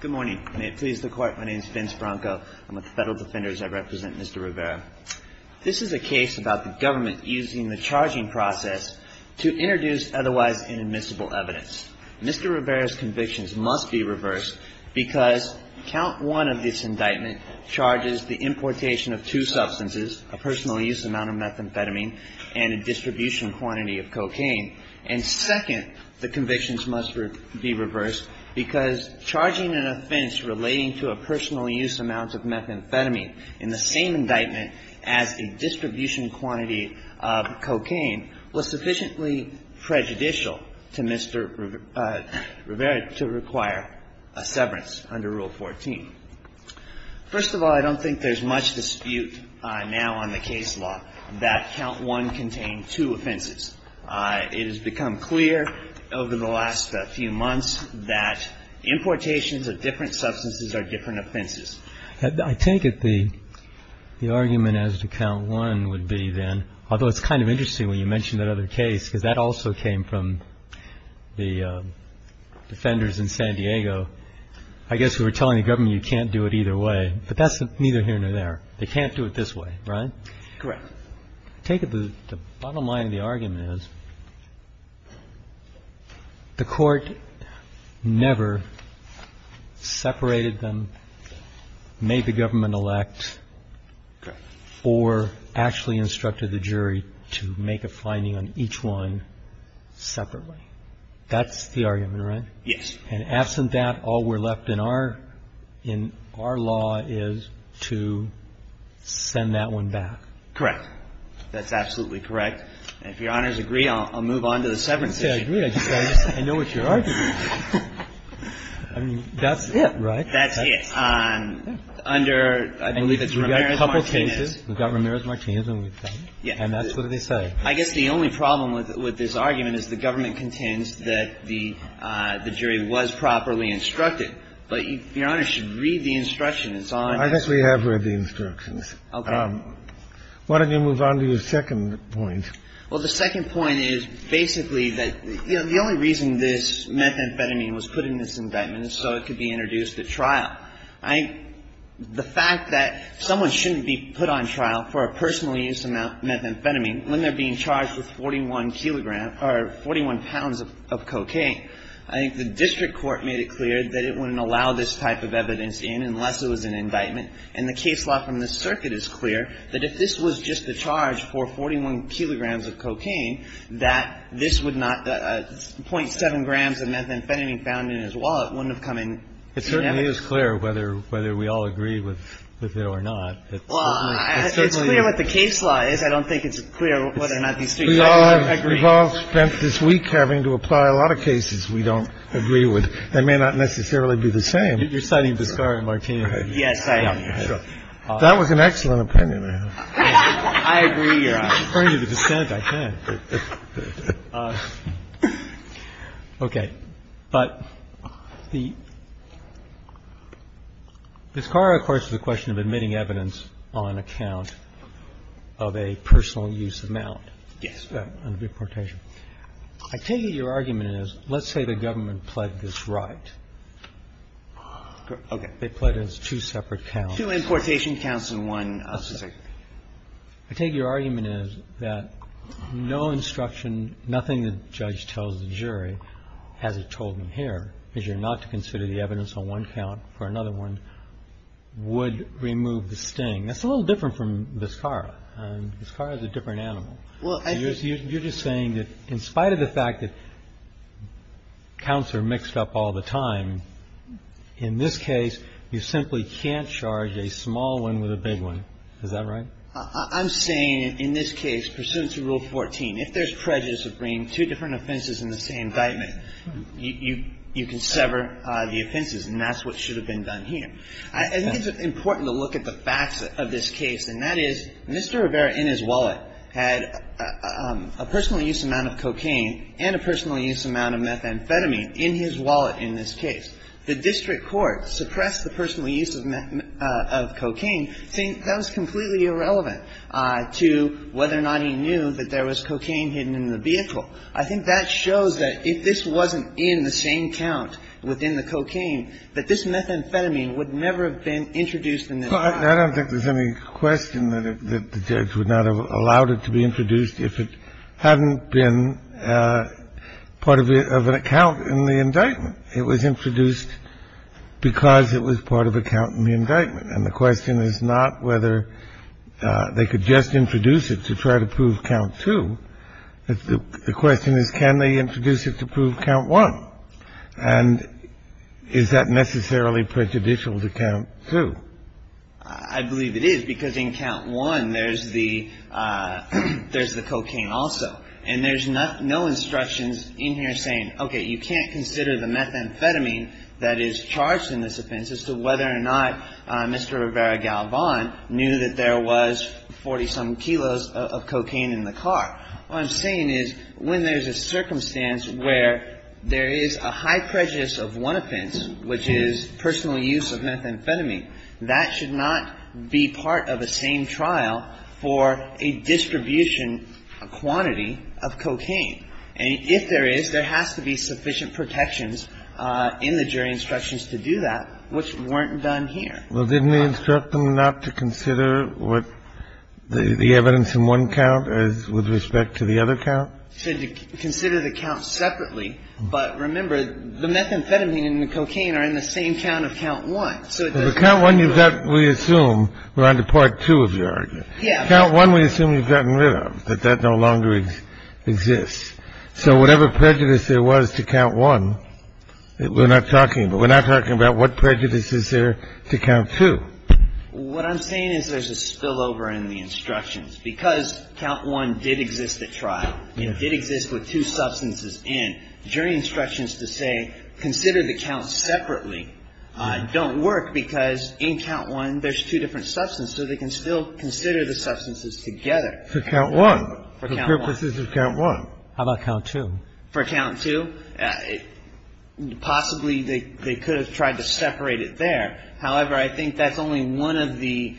Good morning. May it please the court, my name is Vince Branco. I'm with the Federal Defenders. I represent Mr. Rivera. This is a case about the government using the charging process to introduce otherwise inadmissible evidence. Mr. Rivera's convictions must be reversed because count one of this indictment charges the importation of two substances, a personal use amount of methamphetamine and a distribution quantity of cocaine. And second, the convictions must be reversed because charging an offense relating to a personal use amount of methamphetamine in the same indictment as a distribution quantity of cocaine was sufficiently prejudicial to Mr. Rivera to require a severance under Rule 14. First of all, I don't think there's much dispute now on the case law that count one contained two offenses. It has become clear over the last few months that importations of different substances are different offenses. I take it the argument as to count one would be then, although it's kind of interesting when you mention that other case, because that also came from the defenders in San Diego. I guess we were telling the government you can't do it either way, but that's neither here nor there. They can't do it this way, right? Correct. I take it the bottom line of the argument is the Court never separated them, made the government elect or actually instructed the jury to make a finding on each one separately. That's the argument, right? Yes. And absent that, all we're left in our law is to send that one back. Correct. That's absolutely correct. And if Your Honor's agree, I'll move on to the severance issue. I agree. I know what you're arguing. I mean, that's it, right? That's it. Under, I believe it's Ramirez-Martinez. We've got a couple cases. We've got Ramirez-Martinez. And that's what they say. I guess the only problem with this argument is the government contends that the jury was properly instructed. But Your Honor should read the instructions on that. I guess we have read the instructions. Okay. Why don't you move on to your second point? Well, the second point is basically that, you know, the only reason this methamphetamine was put in this indictment is so it could be introduced at trial. I think the fact that someone shouldn't be put on trial for a personal use methamphetamine when they're being charged with 41 kilograms or 41 pounds of cocaine, I think the district court made it clear that it wouldn't allow this type of evidence in unless it was an indictment. And the case law from this circuit is clear that if this was just the charge for 41 kilograms of cocaine, that this would not — 0.7 grams of methamphetamine found in his wallet wouldn't have come in. It certainly is clear whether we all agree with it or not. Well, it's clear what the case law is. I don't think it's clear whether or not these three judges agree. We've all spent this week having to apply a lot of cases we don't agree with that may not necessarily be the same. You're citing Viscari and Martinez. Yes, I am. That was an excellent opinion. I agree. You're referring to the dissent. I can. Okay. But the — Viscari, of course, is a question of admitting evidence on account of a personal use amount. Yes. I take it your argument is let's say the government pled this right. Okay. They pled it as two separate counts. Two importation counts and one — I take your argument is that no instruction, nothing the judge tells the jury, as it's told in here, is you're not to consider the evidence on one count for another one, would remove the sting. That's a little different from Viscari. Viscari is a different animal. You're just saying that in spite of the fact that counts are mixed up all the time, in this case you simply can't charge a small one with a big one. Is that right? I'm saying in this case pursuant to Rule 14, if there's prejudice of bringing two different offenses in the same indictment, you can sever the offenses, and that's what should have been done here. I think it's important to look at the facts of this case, and that is Mr. Rivera in his wallet had a personal use amount of cocaine and a personal use amount of methamphetamine in his wallet in this case. The district court suppressed the personal use of cocaine, saying that was completely irrelevant to whether or not he knew that there was cocaine hidden in the vehicle. I think that shows that if this wasn't in the same count within the cocaine, that this methamphetamine would never have been introduced in this case. I don't think there's any question that the judge would not have allowed it to be introduced if it hadn't been part of an account in the indictment. It was introduced because it was part of a count in the indictment. And the question is not whether they could just introduce it to try to prove Count 2. The question is can they introduce it to prove Count 1. And is that necessarily prejudicial to Count 2? I believe it is, because in Count 1 there's the cocaine also. And there's no instructions in here saying, okay, you can't consider the methamphetamine that is charged in this offense as to whether or not Mr. Rivera Galvan knew that there was 40-some kilos of cocaine in the car. What I'm saying is when there's a circumstance where there is a high prejudice of one offense, which is personal use of methamphetamine, that should not be part of the same trial for a distribution quantity of cocaine. And if there is, there has to be sufficient protections in the jury instructions to do that, which weren't done here. Well, didn't they instruct them not to consider what the evidence in one count with respect to the other count? They said to consider the count separately. But remember, the methamphetamine and the cocaine are in the same count of Count 1. So it doesn't matter. Well, the Count 1 you've got, we assume, we're on to Part 2 of your argument. Yeah. Count 1 we assume you've gotten rid of, that that no longer exists. So whatever prejudice there was to Count 1, we're not talking about. We're not talking about what prejudice is there to Count 2. What I'm saying is there's a spillover in the instructions. Because Count 1 did exist at trial, it did exist with two substances in, jury instructions to say consider the count separately don't work, because in Count 1 there's two different substances, so they can still consider the substances together. For Count 1. For Count 1. The purpose is Count 1. How about Count 2? For Count 2, possibly they could have tried to separate it there. However, I think that's only one of the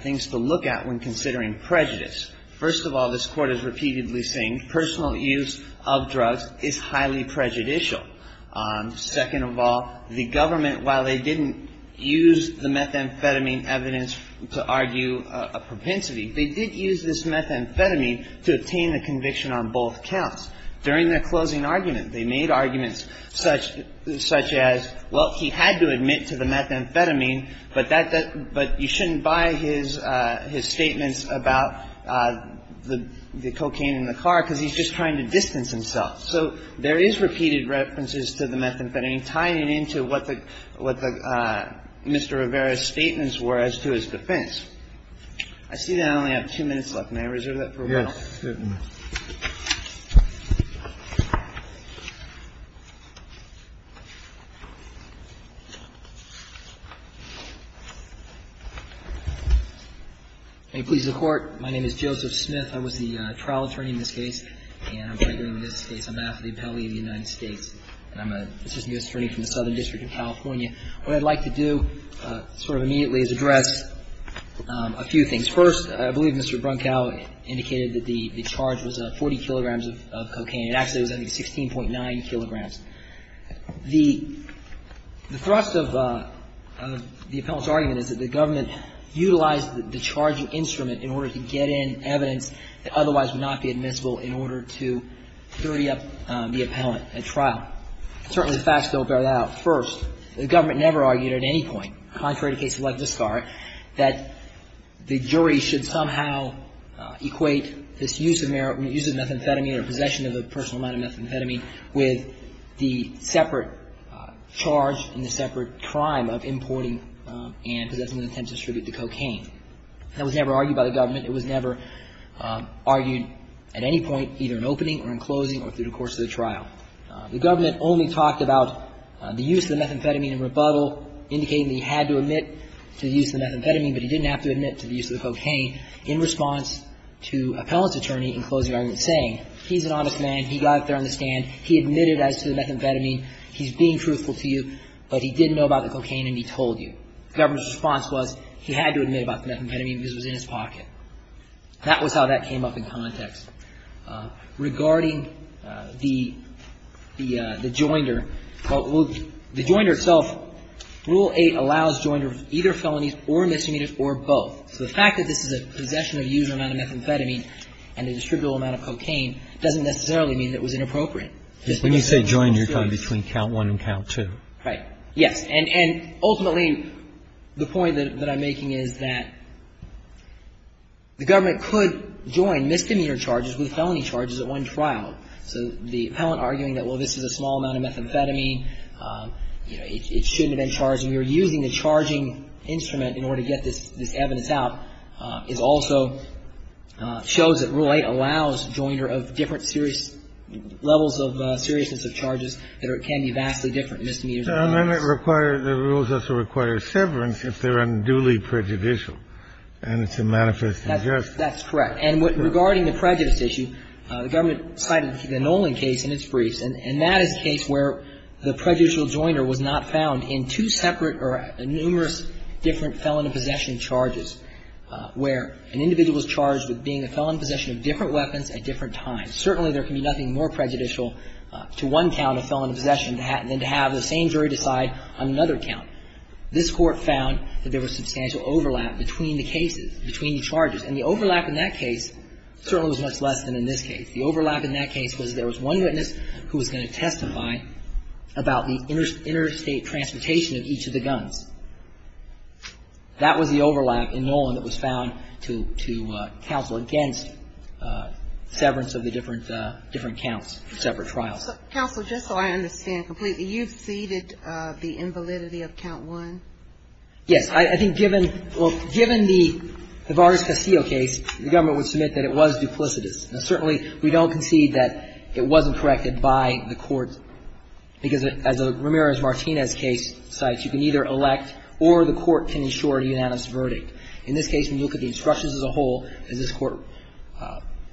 things to look at when considering prejudice. First of all, this Court is repeatedly saying personal use of drugs is highly prejudicial. Second of all, the government, while they didn't use the methamphetamine evidence to argue a propensity, they did use this methamphetamine to obtain a conviction on both counts. During their closing argument, they made arguments such as, well, he had to admit to the methamphetamine, but you shouldn't buy his statements about the cocaine in the car because he's just trying to distance himself. So there is repeated references to the methamphetamine tying it into what the Mr. Rivera's statements were as to his defense. I see that I only have two minutes left. May I reserve that for Ronald? Good. May it please the Court. My name is Joseph Smith. I was the trial attorney in this case, and I'm right here in this case. I'm after the appellee of the United States, and I'm an assistant justice attorney from the Southern District of California. What I'd like to do sort of immediately is address a few things. First, I believe Mr. Brunkow indicated that the charge was 40 kilograms of cocaine. It actually was only 16.9 kilograms. The thrust of the appellant's argument is that the government utilized the charging instrument in order to get in evidence that otherwise would not be admissible in order to dirty up the appellant at trial. Certainly, the facts don't bear that out. First, the government never argued at any point, contrary to cases like this, that the jury should somehow equate this use of methamphetamine or possession of a personal amount of methamphetamine with the separate charge and the separate crime of importing and possessing in an attempt to distribute the cocaine. That was never argued by the government. It was never argued at any point, either in opening or in closing or through the course of the trial. The government only talked about the use of the methamphetamine in rebuttal, indicating that he had to admit to the use of the methamphetamine, but he didn't have to admit to the use of the cocaine in response to appellant's attorney in closing argument saying, he's an honest man, he got up there on the stand, he admitted as to the methamphetamine, he's being truthful to you, but he didn't know about the cocaine and he told you. The government's response was he had to admit about the methamphetamine because it was in his pocket. That was how that came up in context. Regarding the joinder, the joinder itself, Rule 8 allows joinder of either felonies or misdemeanors or both. So the fact that this is a possession of a user amount of methamphetamine and a distributable amount of cocaine doesn't necessarily mean it was inappropriate. When you say joinder, you're talking about count one and count two. Right. Yes. And ultimately, the point that I'm making is that the government could join misdemeanor charges with felony charges at one trial. So the appellant arguing that, well, this is a small amount of methamphetamine, it shouldn't have been charged, and we were using the charging instrument in order to get this evidence out, is also shows that Rule 8 allows joinder of different levels of seriousness of charges that can be vastly different. And it requires the rules also require severance if they're unduly prejudicial. And it's a manifest injustice. That's correct. And regarding the prejudice issue, the government cited the Nolan case in its briefs, and that is a case where the prejudicial joinder was not found in two separate or numerous different felon possession charges where an individual was charged with being a felon in possession of different weapons at different times. Certainly, there can be nothing more prejudicial to one count of felon possession than to have the same jury decide on another count. This Court found that there was substantial overlap between the cases, between the charges. And the overlap in that case certainly was much less than in this case. The overlap in that case was there was one witness who was going to testify about the interstate transportation of each of the guns. That was the overlap in Nolan that was found to counsel against severance of the different counts for separate trials. Counsel, just so I understand completely, you've ceded the invalidity of Count 1? Yes. I think given the Vargas Castillo case, the government would submit that it was duplicitous. And certainly, we don't concede that it wasn't corrected by the courts, because as Ramirez-Martinez case cites, you can either elect or the court can ensure a unanimous verdict. In this case, when you look at the instructions as a whole, as this Court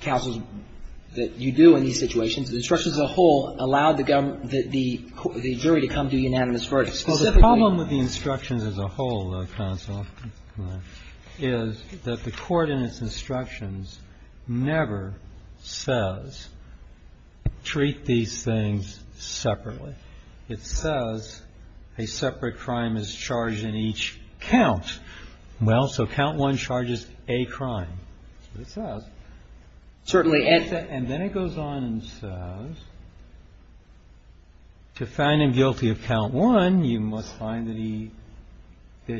counsels that you do in these situations, the instructions as a whole allowed the government, the jury to come to a unanimous verdict. Well, the problem with the instructions as a whole, counsel, is that the Court in its instructions never says treat these things separately. It says a separate crime is charged in each count. Well, so Count 1 charges a crime. That's what it says. Certainly. And then it goes on and says to find him guilty of Count 1, you must find that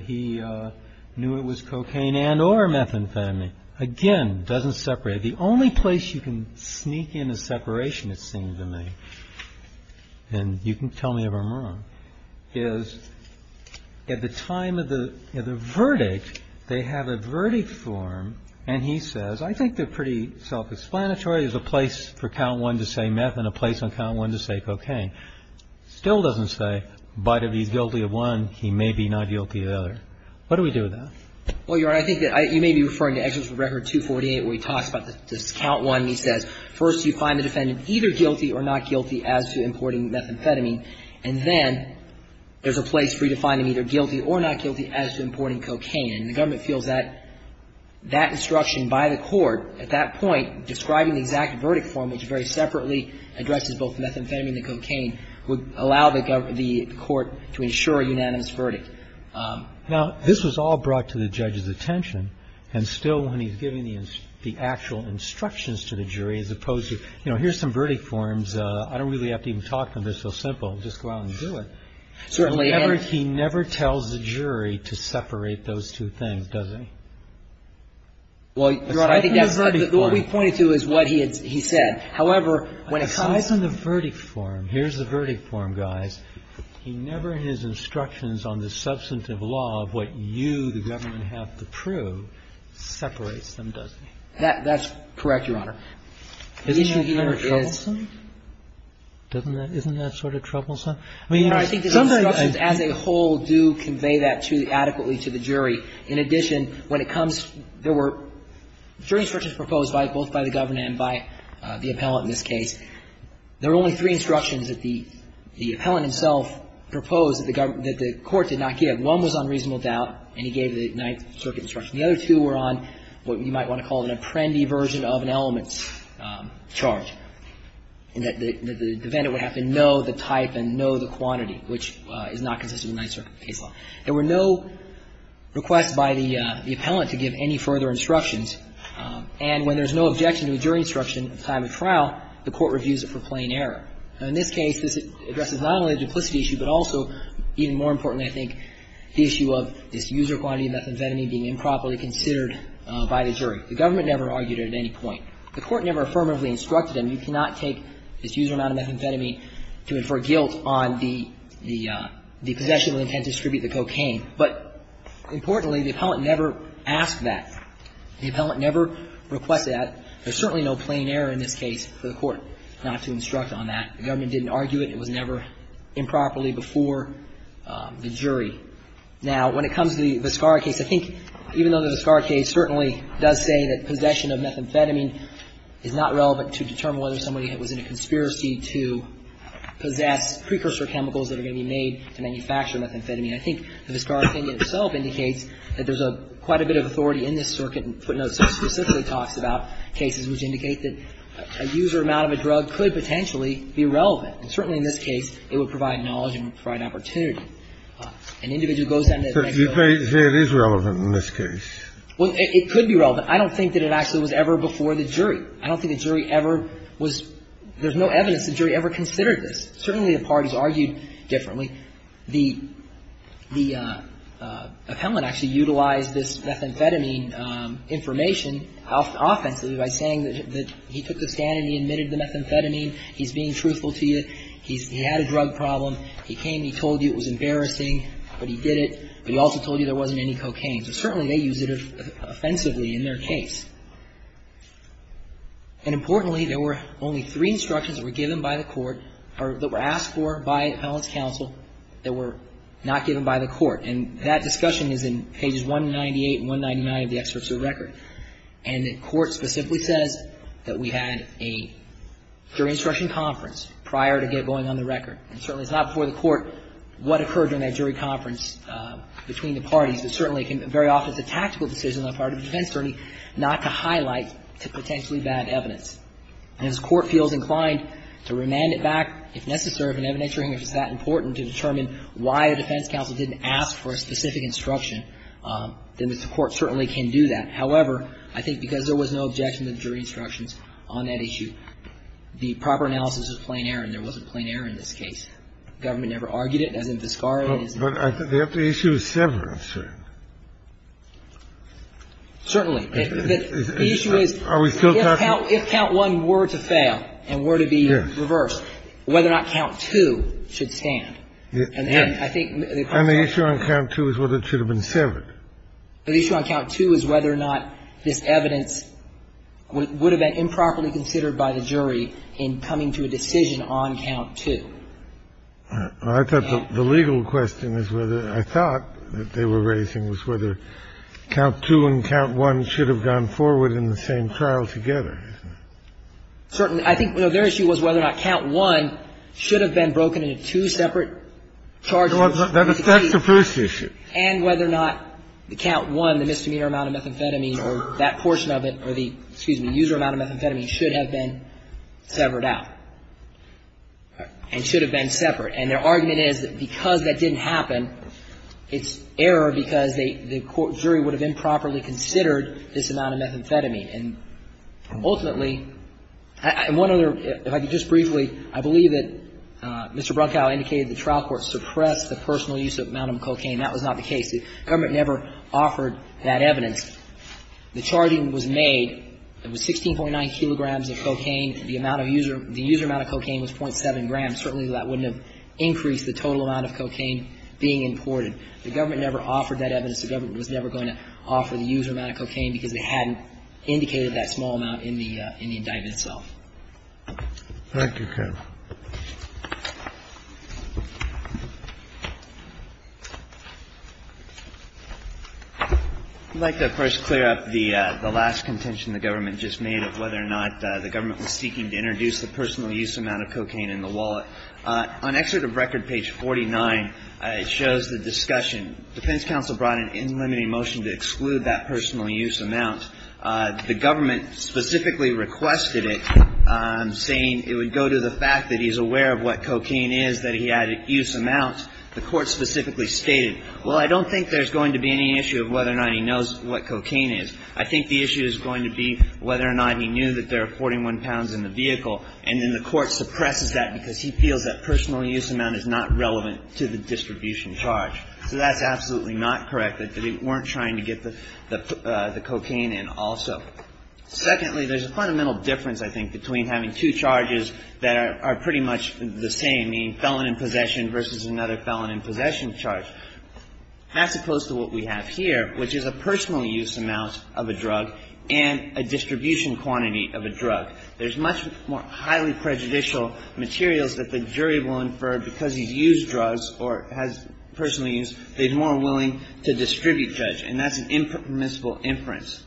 he knew it was cocaine and or methamphetamine. Again, doesn't separate. The only place you can sneak in a separation, it seems to me, and you can tell me if I'm wrong, is at the time of the verdict, they have a verdict form, and he says, I think they're pretty self-explanatory. There's a place for Count 1 to say meth and a place on Count 1 to say cocaine. Still doesn't say, but if he's guilty of one, he may be not guilty of the other. What do we do with that? Well, Your Honor, I think that you may be referring to Exodus of Record 248, where he talks about this Count 1. He says, first, you find the defendant either guilty or not guilty as to importing methamphetamine. And then there's a place for you to find him either guilty or not guilty as to importing cocaine. And the government feels that that instruction by the court at that point, describing the exact verdict form, which very separately addresses both methamphetamine and cocaine, would allow the court to ensure a unanimous verdict. Now, this was all brought to the judge's attention, and still when he's giving the actual instructions to the jury as opposed to, you know, here's some verdict forms. I don't really have to even talk to them. They're so simple. Just go out and do it. Certainly. And he never tells the jury to separate those two things, does he? Well, Your Honor, I think that's what we pointed to is what he said. However, when it comes to the verdict form, here's the verdict form, guys. He never, in his instructions on the substantive law of what you, the government, have to prove, separates them, does he? That's correct, Your Honor. Isn't that sort of troublesome? Well, Your Honor, I think the instructions as a whole do convey that adequately to the jury. In addition, when it comes, there were three instructions proposed by both by the governor and by the appellant in this case. There were only three instructions that the appellant himself proposed that the court did not give. One was on reasonable doubt, and he gave the Ninth Circuit instruction. The other two were on what you might want to call an apprendee version of an elements charge, in that the defendant would have to know the type and know the quantity, which is not consistent with Ninth Circuit case law. There were no requests by the appellant to give any further instructions. And when there's no objection to a jury instruction at the time of trial, the court reviews it for plain error. Now, in this case, this addresses not only a duplicity issue, but also, even more importantly, I think, the issue of this user quantity of methamphetamine being improperly considered by the jury. The government never argued it at any point. The court never affirmatively instructed him, you cannot take this user amount of methamphetamine to infer guilt on the possession of the intent to distribute the cocaine. But importantly, the appellant never asked that. The appellant never requested that. There's certainly no plain error in this case for the court not to instruct on that. The government didn't argue it. It was never improperly before the jury. Now, when it comes to the Viscara case, I think, even though the Viscara case certainly does say that possession of methamphetamine is not relevant to determine whether somebody was in a conspiracy to possess precursor chemicals that are going to be made to manufacture methamphetamine, I think the Viscara opinion itself indicates that there's quite a bit of authority in this circuit, and footnotes specifically talks about cases which indicate that a user amount of a drug could potentially be relevant. And certainly in this case, it would provide knowledge and provide opportunity. An individual goes down to the bank and goes to the bank. Kennedy. But you say it is relevant in this case. Well, it could be relevant. I don't think that it actually was ever before the jury. I don't think the jury ever was – there's no evidence the jury ever considered this. Certainly the parties argued differently. The appellant actually utilized this methamphetamine information offensively by saying that he took the stand and he admitted the methamphetamine, he's being truthful to you, he had a drug problem, he came, he told you it was embarrassing, but he did it, but he also told you there wasn't any cocaine. So certainly they used it offensively in their case. And importantly, there were only three instructions that were given by the court or that were asked for by appellant's counsel that were not given by the court. And that discussion is in pages 198 and 199 of the excerpts of the record. And the court specifically says that we had a jury instruction conference prior to it going on the record. And certainly it's not before the court what occurred during that jury conference between the parties, but certainly very often it's a tactical decision on the part of the defense attorney not to highlight potentially bad evidence. And if the court feels inclined to remand it back, if necessary, if an evidence hearing is that important to determine why the defense counsel didn't ask for a specific instruction, then the court certainly can do that. However, I think because there was no objection to the jury instructions on that issue, the proper analysis was plain error, and there wasn't plain error in this case. Government never argued it, as in Vizcarra. But I think the issue is severed, I'm sure. Certainly. The issue is, if count one were to fail and were to be reversed, whether or not count two should stand. And I think the question is. And the issue on count two is whether it should have been severed. The issue on count two is whether or not this evidence would have been improperly considered by the jury in coming to a decision on count two. I thought the legal question is whether, I thought that they were raising was whether count two and count one should have gone forward in the same trial together. Certainly. I think their issue was whether or not count one should have been broken into two separate charges. That's the first issue. And whether or not the count one, the misdemeanor amount of methamphetamine, or that portion of it, or the user amount of methamphetamine should have been severed out and should have been separate. And their argument is that because that didn't happen, it's error because the court jury would have improperly considered this amount of methamphetamine. And ultimately, one other, if I could just briefly, I believe that Mr. Brunkow indicated that the trial court suppressed the personal use of the amount of cocaine. That was not the case. The government never offered that evidence. The charting was made. It was 16.9 kilograms of cocaine. The amount of user, the user amount of cocaine was .7 grams. Certainly, that wouldn't have increased the total amount of cocaine being imported. The government never offered that evidence. The government was never going to offer the user amount of cocaine because they hadn't indicated that small amount in the indictment itself. Thank you, Counsel. I'd like to first clear up the last contention the government just made of whether or not the government was seeking to introduce the personal use amount of cocaine in the wallet. On Excerpt of Record, page 49, it shows the discussion. Defense counsel brought an in-limiting motion to exclude that personal use amount. The government specifically requested it, saying it would go to the fact that he's aware of what cocaine is, that he had a use amount. The court specifically stated, well, I don't think there's going to be any issue of whether or not he knows what cocaine is. I think the issue is going to be whether or not he knew that there are 41 pounds in the vehicle, and then the court suppresses that because he feels that personal use amount is not relevant to the distribution charge. So that's absolutely not correct, that they weren't trying to get the cocaine in also. Secondly, there's a fundamental difference, I think, between having two charges that are pretty much the same, meaning felon in possession versus another felon in possession charge, as opposed to what we have here, which is a personal use amount of a drug and a distribution quantity of a drug. There's much more highly prejudicial materials that the jury will infer because he's used drugs or has personal use. They're more willing to distribute judge, and that's an impermissible inference.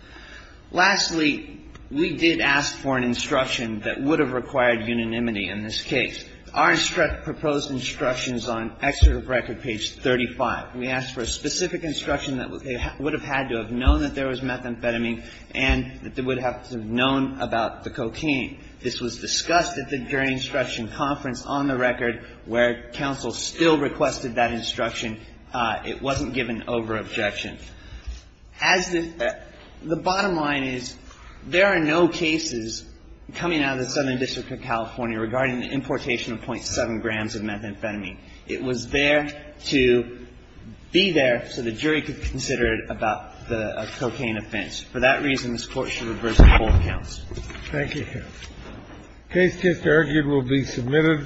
Lastly, we did ask for an instruction that would have required unanimity in this case. Our proposed instruction is on Excerpt of Record, page 35. We asked for a specific instruction that they would have had to have known that there was methamphetamine and that they would have to have known about the cocaine. This was discussed at the jury instruction conference on the record where counsel still requested that instruction. It wasn't given over objection. As the bottom line is, there are no cases coming out of the Southern District of California regarding the importation of .7 grams of methamphetamine. It was there to be there so the jury could consider it about the cocaine offense. For that reason, this Court should reverse the whole counts. Thank you, counsel. The case just argued will be submitted.